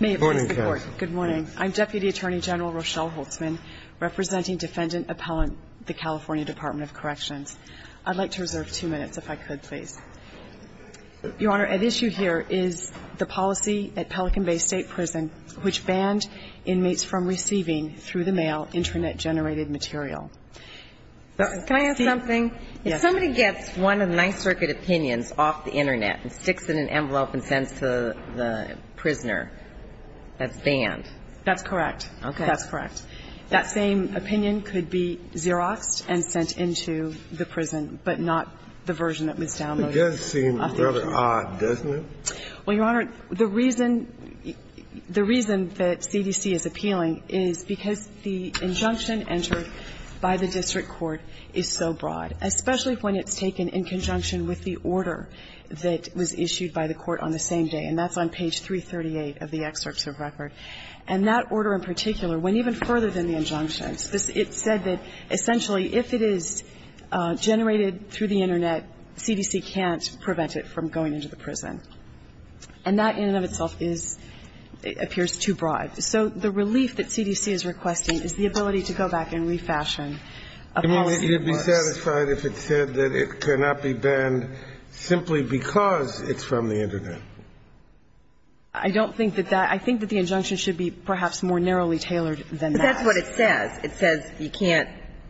May it please the Court. Good morning. I'm Deputy Attorney General Rochelle Holtzman representing Defendant Appellant, the California Department of Corrections. I'd like to reserve two minutes if I could please. Your Honor, at issue here is the policy at Pelican Bay State Prison which banned inmates from receiving, through the mail, internet-generated material. Can I ask something? Yes. If somebody gets one of the Ninth Circuit opinions off the mail and sends it to the prisoner, that's banned? That's correct. Okay. That's correct. That same opinion could be Xeroxed and sent into the prison, but not the version that was downloaded. It does seem rather odd, doesn't it? Well, Your Honor, the reason that CDC is appealing is because the injunction entered by the district court is so broad, especially when it's taken in conjunction with the order that was issued by the court on the same day, and that's on page 338 of the excerpts of record. And that order in particular, went even further than the injunction. It said that, essentially, if it is generated through the internet, CDC can't prevent it from going into the prison. And that, in and of itself, is – appears too broad. So the relief that CDC is requesting is the ability to go back and refashion a policy that works. So you're satisfied if it said that it cannot be banned simply because it's from the internet? I don't think that that – I think that the injunction should be perhaps more narrowly tailored than that. But that's what it says. It says you can't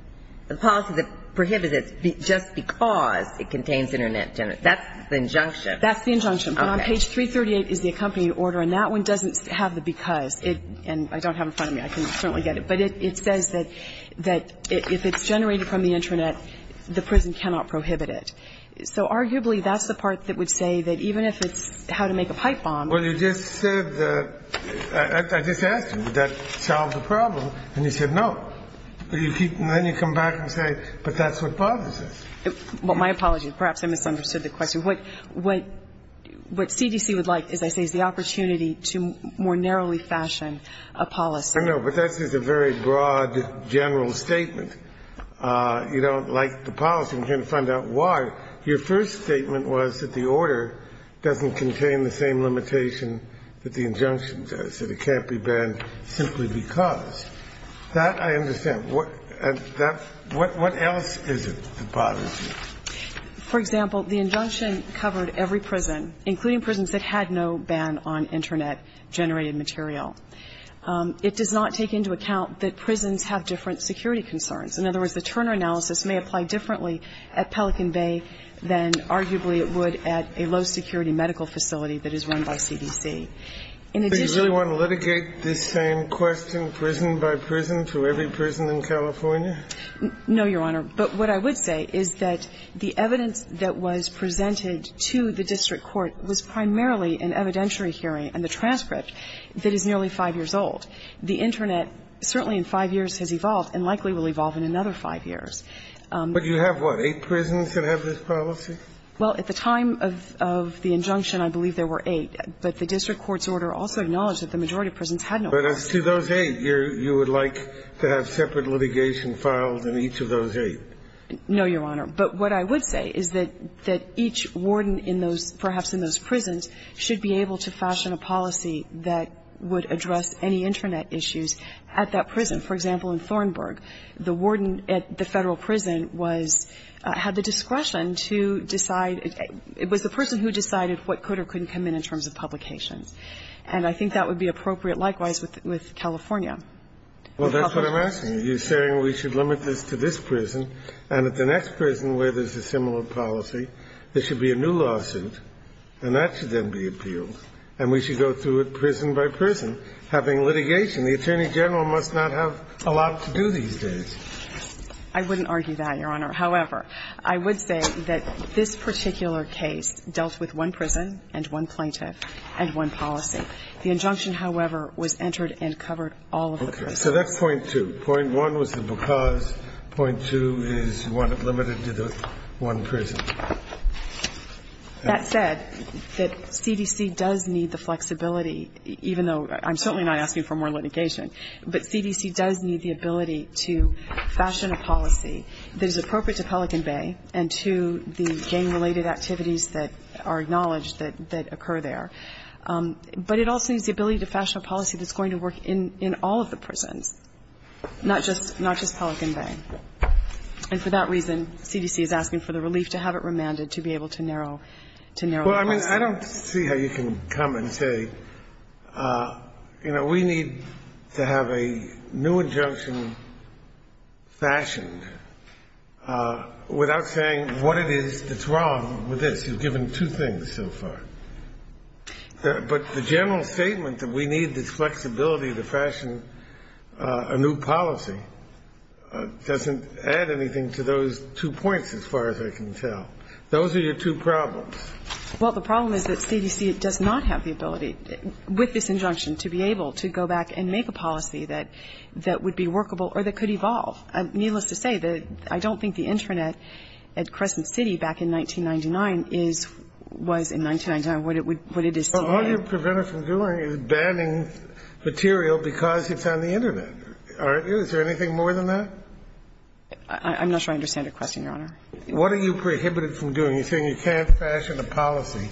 – the policy that prohibits it just because it contains internet – that's the injunction. That's the injunction. Okay. But on page 338 is the accompanying order, and that one doesn't have the because. And I don't have it in front of me. I can certainly get it. But it says that if it's generated from the internet, the prison cannot prohibit it. So arguably, that's the part that would say that even if it's how to make a pipe bomb – Well, you just said that – I just asked you, did that solve the problem? And you said no. But you keep – and then you come back and say, but that's what bothers us. Well, my apologies. Perhaps I misunderstood the question. What CDC would like, as I say, is the opportunity to more narrowly fashion a policy. I know. But that's just a very broad, general statement. You don't like the policy. I'm trying to find out why. Your first statement was that the order doesn't contain the same limitation that the injunction does, that it can't be banned simply because. That I understand. What else is it that bothers you? For example, the injunction covered every prison, including prisons that had no ban on internet-generated material. It does not take into account that prisons have different security concerns. In other words, the Turner analysis may apply differently at Pelican Bay than arguably it would at a low-security medical facility that is run by CDC. In addition – But you really want to litigate this same question, prison by prison, to every prison in California? No, Your Honor. But what I would say is that the evidence that was presented to the district court was primarily an evidentiary hearing and the transcript that is nearly 5 years old. The internet, certainly in 5 years, has evolved and likely will evolve in another 5 years. But you have what, 8 prisons that have this policy? Well, at the time of the injunction, I believe there were 8. But the district court's order also acknowledged that the majority of prisons had no prisons. But as to those 8, you would like to have separate litigation filed in each of those 8? No, Your Honor. But what I would say is that each warden in those – perhaps in those prisons should be able to fashion a policy that would address any internet issues at that For example, in Thornburg, the warden at the Federal prison was – had the discretion to decide – it was the person who decided what could or couldn't come in in terms of publications. And I think that would be appropriate likewise with California. Well, that's what I'm asking you. You're saying we should limit this to this prison and at the next prison where there's a similar policy, there should be a new lawsuit and that should then be appealed and we should go through it prison by prison, having litigation. The Attorney General must not have a lot to do these days. I wouldn't argue that, Your Honor. However, I would say that this particular case dealt with one prison and one plaintiff and one policy. The injunction, however, was entered and covered all of the prisons. Okay. So that's point two. Point one was the because. Point two is you want it limited to the one prison. That said, that CDC does need the flexibility, even though – I'm certainly not asking for more litigation. But CDC does need the ability to fashion a policy that is appropriate to Pelican Bay and to the gang-related activities that are acknowledged that occur there. But it also needs the ability to fashion a policy that's going to work in all of the prisons, not just – not just Pelican Bay. And for that reason, CDC is asking for the relief to have it remanded to be able to narrow – to narrow the lawsuit. Well, I mean, I don't see how you can come and say, you know, we need to have a new injunction fashioned without saying what it is that's wrong with this. You've given two things so far. But the general statement that we need this flexibility to fashion a new policy doesn't add anything to those two points, as far as I can tell. Those are your two problems. Well, the problem is that CDC does not have the ability with this injunction to be able to go back and make a policy that would be workable or that could evolve. Needless to say, the – I don't think the Internet at Crescent City back in 1999 is – was in 1999 what it is today. But all you're prevented from doing is banning material because it's on the Internet. Is there anything more than that? I'm not sure I understand your question, Your Honor. What are you prohibited from doing? You're saying you can't fashion a policy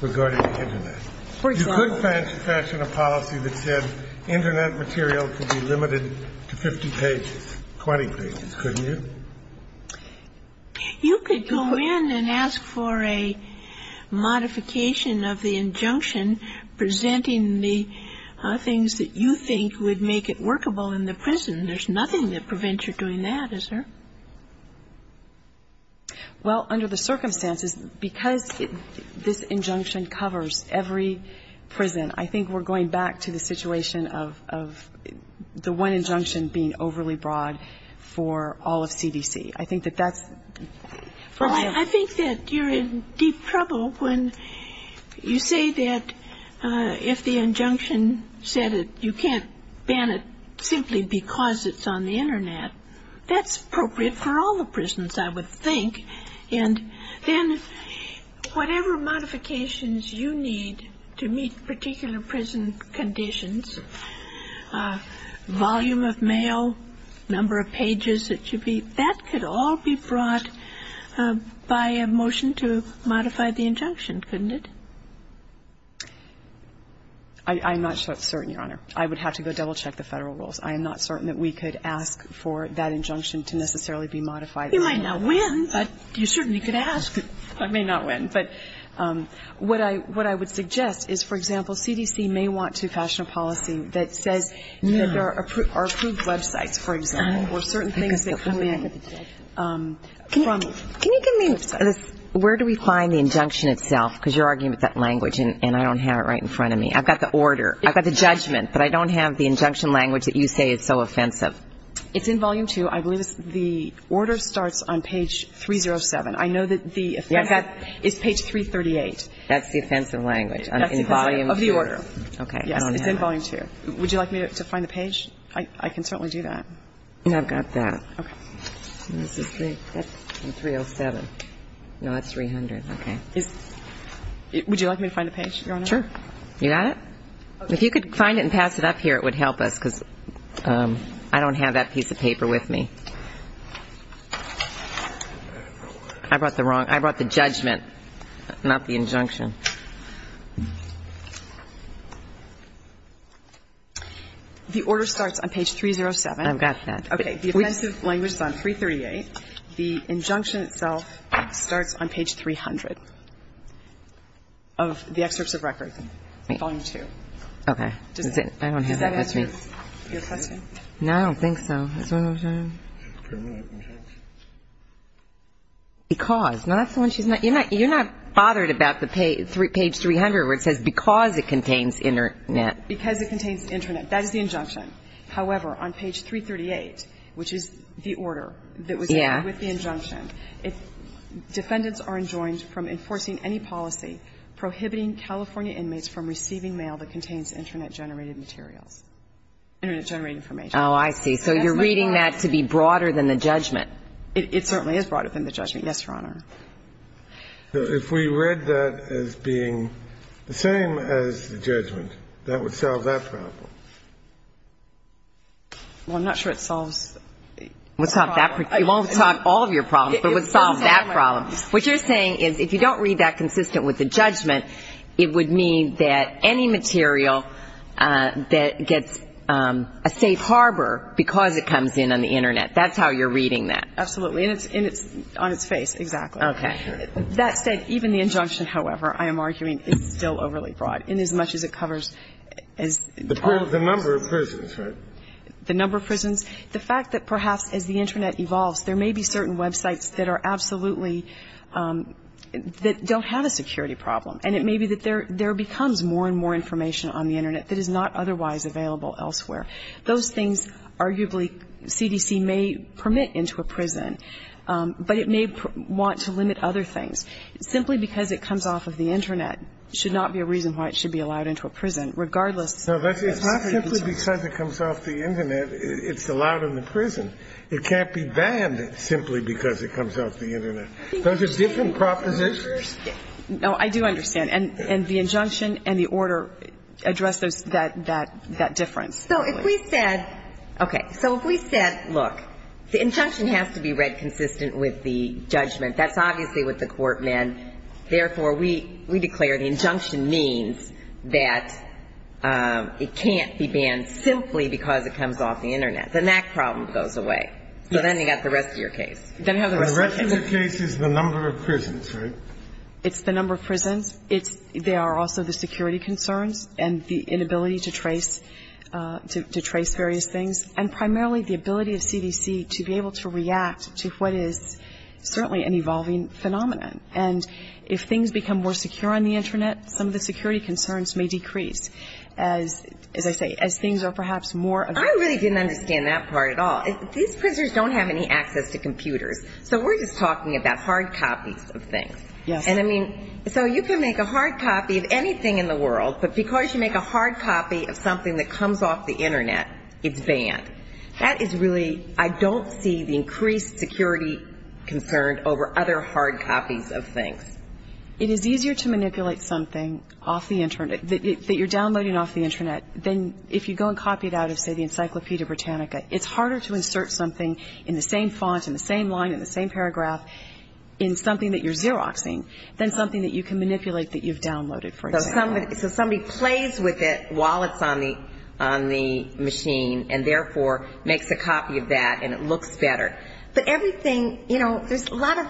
regarding the Internet. For example – You could fashion a policy that said Internet material could be limited to 50 pages, 20 pages, couldn't you? You could go in and ask for a modification of the injunction presenting the things that you think would make it workable in the prison. There's nothing that prevents you doing that, is there? Well, under the circumstances, because this injunction covers every prison, I think we're going back to the situation of the one injunction being overly broad for all of CDC. I think that that's why I'm – I think that you're in deep trouble when you say that if the injunction said it, you can't ban it simply because it's on the Internet. That's appropriate for all the prisons, I would think. And then whatever modifications you need to meet particular prison conditions, volume of mail, number of pages that should be, that could all be brought by a motion to modify the injunction, couldn't it? I'm not so certain, Your Honor. I would have to go double-check the Federal rules. I am not certain that we could ask for that injunction to necessarily be modified. You might not win, but you certainly could ask. I may not win. But what I would suggest is, for example, CDC may want to fashion a policy that says that there are approved websites, for example, or certain things that come in from websites. Can you give me – where do we find the injunction itself? Because you're arguing with that language, and I don't have it right in front of me. I've got the order. I've got the judgment, but I don't have the injunction language that you say is so offensive. It's in volume two. I believe it's – the order starts on page 307. I know that the offensive – Yes. It's page 338. That's the offensive language. That's the offensive – of the order. Yes, it's in volume two. I don't have it. Would you like me to find the page? I can certainly do that. I've got that. Okay. And this is the – that's 307. No, that's 300. Okay. Would you like me to find the page, Your Honor? Okay. If you could find it and pass it up here, it would help us, because I don't have it in front of me. Okay. I don't have that piece of paper with me. I brought the wrong – I brought the judgment, not the injunction. The order starts on page 307. I've got that. Okay. The offensive language is on 338. The injunction itself starts on page 300 of the excerpts of record, volume two. Okay. Okay. Okay. Okay. Okay. Okay. Okay. Okay. Okay. Okay. Okay. Okay. Okay. Okay. Okay. Okay. Okay. Okay. Can I – I don't think so. Because. No, that's the one she's not – you're not bothered about the page 300 where it says because it contains internet. Because it contains internet. That is the injunction. However, on page 338, which is the order that was with the injunction, defendants are enjoined from enforcing any policy prohibiting California inmates from receiving mail that contains internet-generating materials – internet-generating information. Oh, I see. Okay. So you're reading that to be broader than the judgment. It certainly is broader than the judgment, yes, Your Honor. If we read that as being the same as the judgment, that would solve that problem. Well, I'm not sure it solves the problem. It would solve that – it won't solve all of your problems, but it would solve that problem. What you're saying is if you don't read that consistent with the judgment, it would mean that any material that gets a safe harbor because it comes in on the internet. That's how you're reading that. Absolutely. And it's – and it's on its face. Exactly. Okay. That said, even the injunction, however, I am arguing, is still overly broad in as much as it covers as – The number of prisons, right? The number of prisons. The fact that perhaps as the internet evolves, there may be certain websites that are absolutely – that don't have a security problem. And it may be that there – there becomes more and more information on the internet that is not otherwise available elsewhere. Those things, arguably, CDC may permit into a prison, but it may want to limit other things. Simply because it comes off of the internet should not be a reason why it should be allowed into a prison, regardless. No, that's – it's not simply because it comes off the internet it's allowed in the prison. It can't be banned simply because it comes off the internet. Those are different propositions. No, I do understand. And the injunction and the order address those – that difference. So if we said – okay. So if we said, look, the injunction has to be read consistent with the judgment. That's obviously what the court meant. Therefore, we declare the injunction means that it can't be banned simply because it comes off the internet. The NAC problem goes away. Yes. So then you've got the rest of your case. Then you have the rest of your case. The rest of your case is the number of prisons, right? It's the number of prisons. It's – they are also the security concerns and the inability to trace – to trace various things. And primarily, the ability of CDC to be able to react to what is certainly an evolving phenomenon. And if things become more secure on the internet, some of the security concerns may decrease as, as I say, as things are perhaps more – I really didn't understand that part at all. These prisoners don't have any access to computers. So we're just talking about hard copies of things. Yes. And I mean, so you can make a hard copy of anything in the world, but because you make a hard copy of something that comes off the internet, it's banned. That is really – I don't see the increased security concern over other hard copies of things. It is easier to manipulate something off the internet – that you're downloading off the internet – than if you go and copy it out of, say, the Encyclopedia Britannica. It's harder to insert something in the same font, in the same line, in the same paragraph in something that you're Xeroxing than something that you can manipulate that you've downloaded, for example. So somebody plays with it while it's on the, on the machine and therefore makes a copy of that and it looks better. But everything, you know, there's a lot of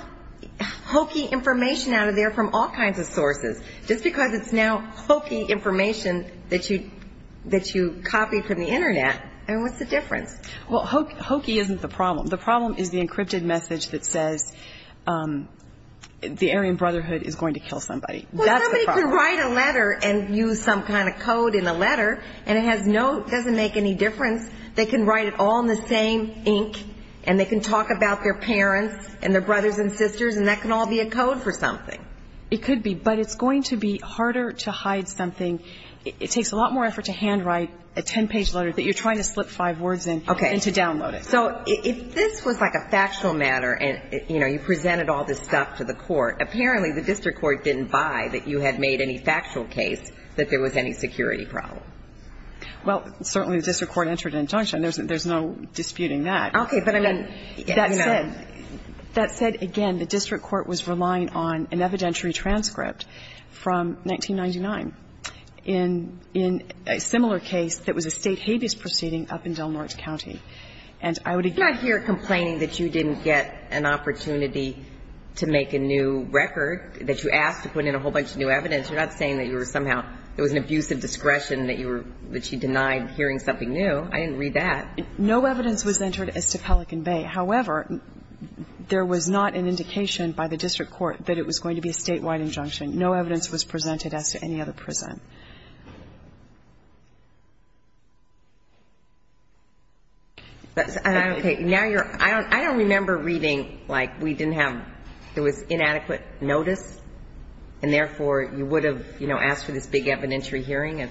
hokey information out of there from all kinds of sources. Just because it's now hokey information that you, that you copied from the internet, I mean, what's the difference? Well, hokey isn't the problem. The problem is the encrypted message that says, um, the Aryan Brotherhood is going to kill somebody. That's the problem. Well, somebody can write a letter and use some kind of code in a letter and it has no – it doesn't make any difference. They can write it all in the same ink and they can talk about their parents and their brothers and sisters and that can all be a code for something. It could be. But it's going to be harder to hide something. It takes a lot more effort to handwrite a 10-page letter that you're trying to slip five words in than to download it. So if this was like a factual matter and, you know, you presented all this stuff to the court, apparently the district court didn't buy that you had made any factual case that there was any security problem. Well, certainly the district court entered an injunction. There's no disputing that. Okay. But I mean, that said – that said, again, the district court was relying on an evidentiary transcript from 1999 in a similar case that was a state habeas proceeding up in Del Norte County. And I would – I'm not here complaining that you didn't get an opportunity to make a new record, that you asked to put in a whole bunch of new evidence. You're not saying that you were somehow – there was an abuse of discretion that you were – that she denied hearing something new. I didn't read that. No evidence was entered as to Pelican Bay. However, there was not an indication by the district court that it was going to be a statewide injunction. No evidence was presented as to any other prison. Now you're – I don't remember reading, like, we didn't have – it was inadequate notice, and therefore you would have, you know, asked for this big evidentiary hearing.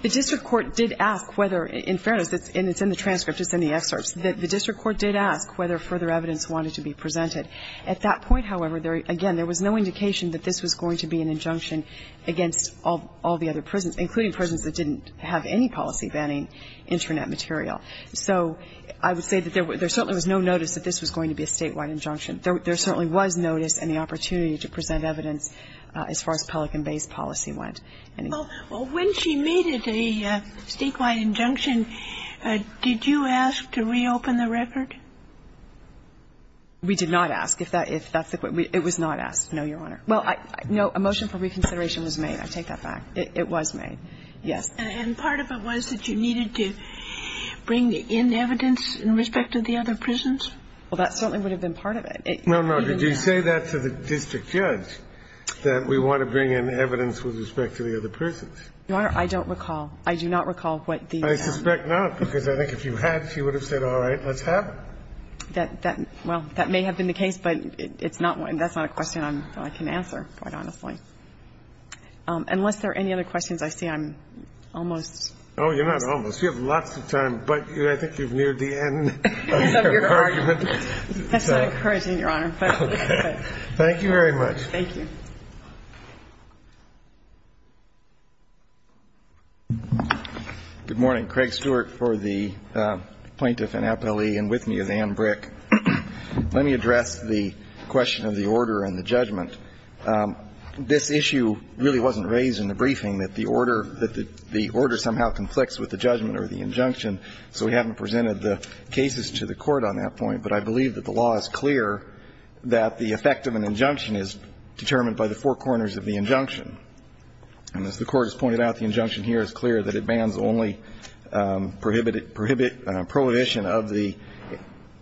The district court did ask whether – in fairness, it's in the transcript, it's in the excerpts – the district court did ask whether further evidence wanted to be presented. At that point, however, there – again, there was no indication that this was going to be an injunction against all the other prisons, including prisons that didn't have any policy banning Internet material. So I would say that there certainly was no notice that this was going to be a statewide injunction. There certainly was notice and the opportunity to present evidence as far as Pelican Bay's policy went. Well, when she made it a statewide injunction, did you ask to reopen the record? We did not ask. It was not asked, no, Your Honor. Well, no, a motion for reconsideration was made. I take that back. It was made, yes. And part of it was that you needed to bring in evidence in respect to the other prisons? Well, that certainly would have been part of it. No, no. Did you say that to the district judge, that we want to bring in evidence with respect to the other prisons? Your Honor, I don't recall. I do not recall what the other prisons did. I suspect not, because I think if you had, she would have said, all right, let's have it. That – well, that may have been the case, but it's not one – that's not a question I'm – I can answer, quite honestly. Unless there are any other questions, I see I'm almost. Oh, you're not almost. You have lots of time, but I think you've neared the end of your argument. That's not encouraging, Your Honor. Thank you very much. Thank you. Good morning. Craig Stewart for the Plaintiff and Appellee, and with me is Ann Brick. Let me address the question of the order and the judgment. This issue really wasn't raised in the briefing, that the order – that the order somehow conflicts with the judgment or the injunction, so we haven't presented the cases to the Court on that point. But I believe that the law is clear that the effect of an injunction is determined by the four corners of the injunction. And as the Court has pointed out, the injunction here is clear that it bans only prohibit – prohibit – prohibition of the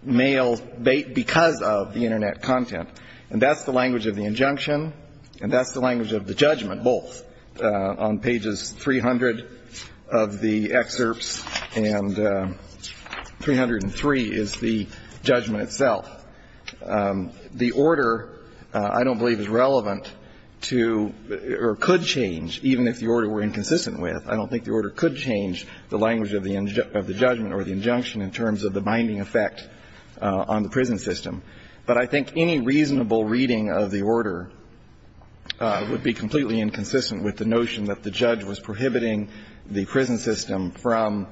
mail because of the Internet content. And that's the language of the injunction, and that's the language of the judgment both on pages 300 of the excerpts, and 303 is the judgment itself. The order, I don't believe, is relevant to – or could change, even if the order were inconsistent with. I don't think the order could change the language of the – of the judgment or the injunction in terms of the binding effect on the prison system. But I think any reasonable reading of the order would be completely inconsistent with the notion that the judge was prohibiting the prison system from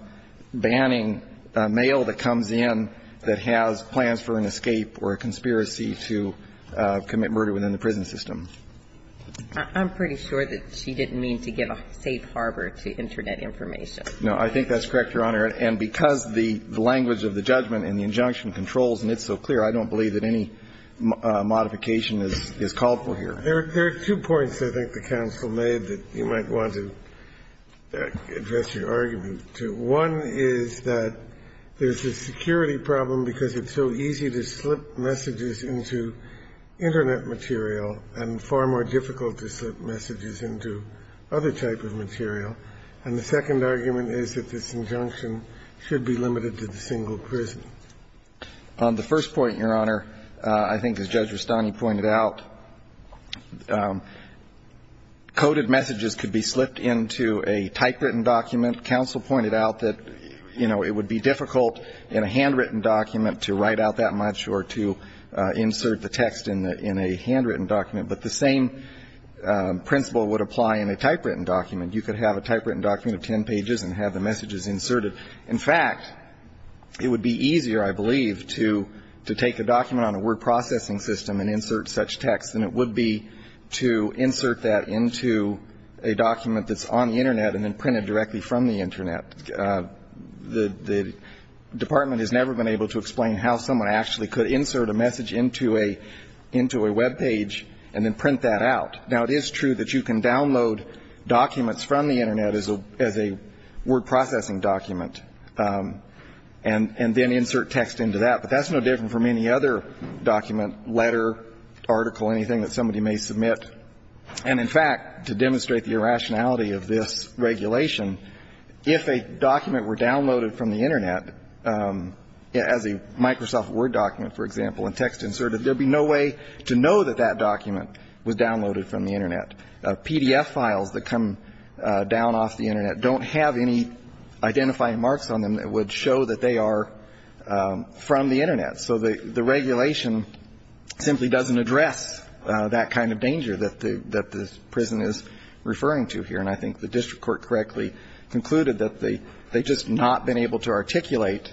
banning mail that comes in that has plans for an escape or a conspiracy to commit murder within the prison system. I'm pretty sure that she didn't mean to give a safe harbor to Internet information. No. I think that's correct, Your Honor. And because the language of the judgment and the injunction controls, and it's so clear, I don't believe that any modification is – is called for here. There are two points, I think, the counsel made that you might want to address your argument to. One is that there's a security problem because it's so easy to slip messages into Internet material and far more difficult to slip messages into other type of material. And the second argument is that this injunction should be limited to the single prison. The first point, Your Honor, I think as Judge Rustani pointed out, coded messages could be slipped into a typewritten document. Counsel pointed out that, you know, it would be difficult in a handwritten document to write out that much or to insert the text in a handwritten document. But the same principle would apply in a typewritten document. You could have a typewritten document of ten pages and have the messages inserted. In fact, it would be easier, I believe, to take a document on a word processing system and insert such text than it would be to insert that into a document that's on the Internet and then print it directly from the Internet. The Department has never been able to explain how someone actually could insert a message into a – into a Web page and then print that out. Now, it is true that you can download documents from the Internet as a – as a word processing document and – and then insert text into that, but that's no different from any other document, letter, article, anything that somebody may submit. And in fact, to demonstrate the irrationality of this regulation, if a document were downloaded from the Internet as a Microsoft Word document, for example, and text inserted, there would be no way to know that that document was downloaded from the Internet. PDF files that come down off the Internet don't have any identifying marks on them that would show that they are from the Internet. So the – the regulation simply doesn't address that kind of danger that the – that the prison is referring to here. And I think the district court correctly concluded that they – they've just not been able to articulate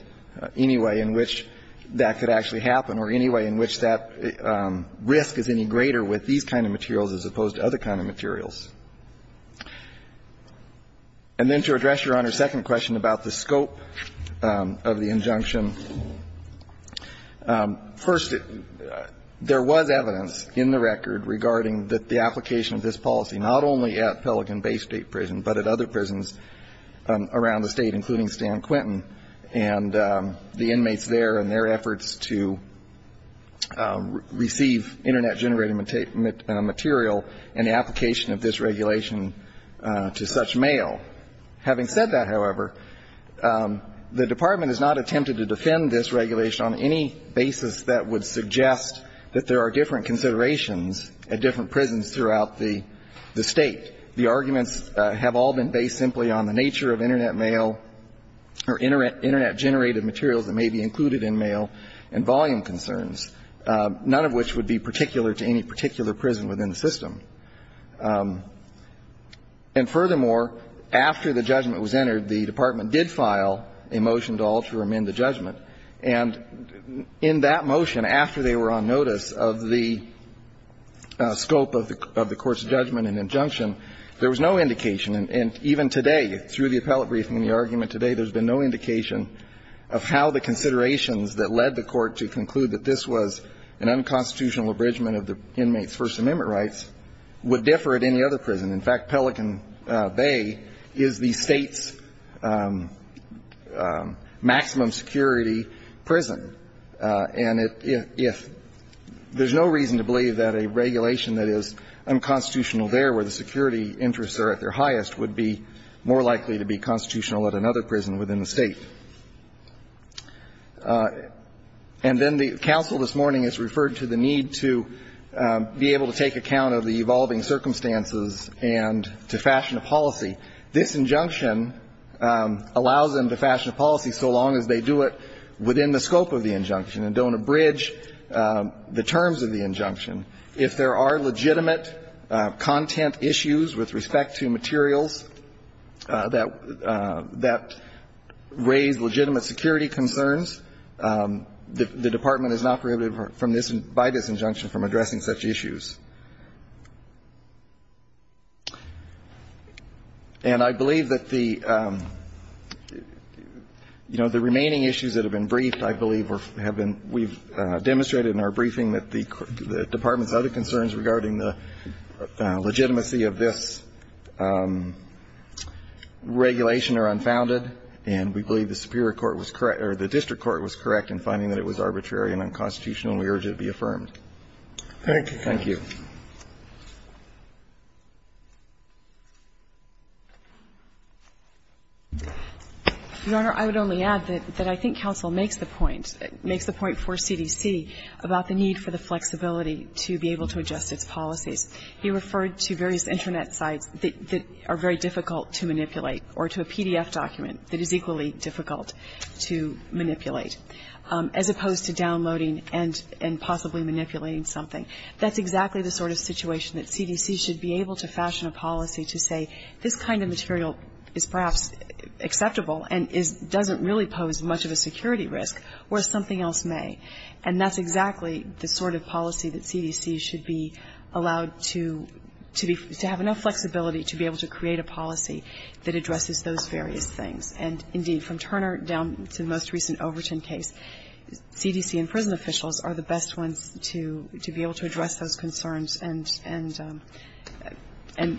any way in which that could actually happen or any way in which that risk is any greater with these kind of materials as opposed to other kind of materials. And then to address Your Honor's second question about the scope of the injunction, first, there was evidence in the record regarding that the application of this policy not only at Pelican Bay State Prison, but at other prisons around the State, including Stan Quentin, and the inmates there and their efforts to receive Internet-generated material and the application of this regulation to such mail. Having said that, however, the Department has not attempted to defend this regulation on any basis that would suggest that there are different considerations at different prisons throughout the State. The arguments have all been based simply on the nature of Internet mail or Internet – Internet-generated materials that may be included in mail and volume concerns, none of which would be particular to any particular prison within the system. And furthermore, after the judgment was entered, the Department did file a motion to alter or amend the judgment. And in that motion, after they were on notice of the scope of the – of the court's judgment and injunction, there was no indication, and even today, through the appellate briefing and the argument today, there's been no indication of how the considerations that led the Court to conclude that this was an unconstitutional abridgment of the inmates' First Amendment rights would differ at any other prison. In fact, Pelican Bay is the State's maximum security prison. And it – if – there's no reason to believe that a regulation that is unconstitutional there, where the security interests are at their highest, would be more likely to be constitutional at another prison within the State. And then the counsel this morning has referred to the need to be able to take account of the evolving circumstances and to fashion a policy. This injunction allows them to fashion a policy so long as they do it within the scope of the injunction and don't abridge the terms of the injunction. If there are legitimate content issues with respect to materials that – that raise legitimate security concerns, the Department is not prohibited from this – by this injunction from addressing such issues. And I believe that the – you know, the remaining issues that have been briefed, I believe, have been – we've demonstrated in our briefing that the – the Department's other concerns regarding the legitimacy of this regulation are unfounded. And we believe the Superior Court was correct – or the district court was correct in finding that it was arbitrary and unconstitutional, and we urge it to be affirmed. Thank you. Thank you. Your Honor, I would only add that I think counsel makes the point – makes the point for CDC about the need for the flexibility to be able to adjust its policies. He referred to various Internet sites that are very difficult to manipulate or to a PDF document that is equally difficult to manipulate, as opposed to downloading and possibly manipulating something. That's exactly the sort of situation that CDC should be able to fashion a policy to say, this kind of material is perhaps acceptable and is – doesn't really pose much of a security risk, whereas something else may. And that's exactly the sort of policy that CDC should be allowed to be – to have enough flexibility to be able to create a policy that addresses those various things. And indeed, from Turner down to the most recent Overton case, CDC and prison officials are the best ones to be able to address those concerns, and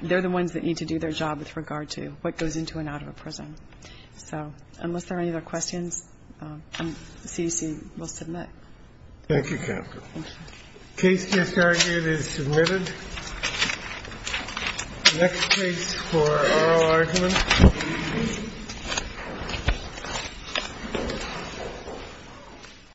they're the ones that need to do their job with regard to what goes into and out of a prison. So unless there are any other questions, CDC will submit. Thank you, counsel. Thank you. The case just argued is submitted. The next case for oral argument.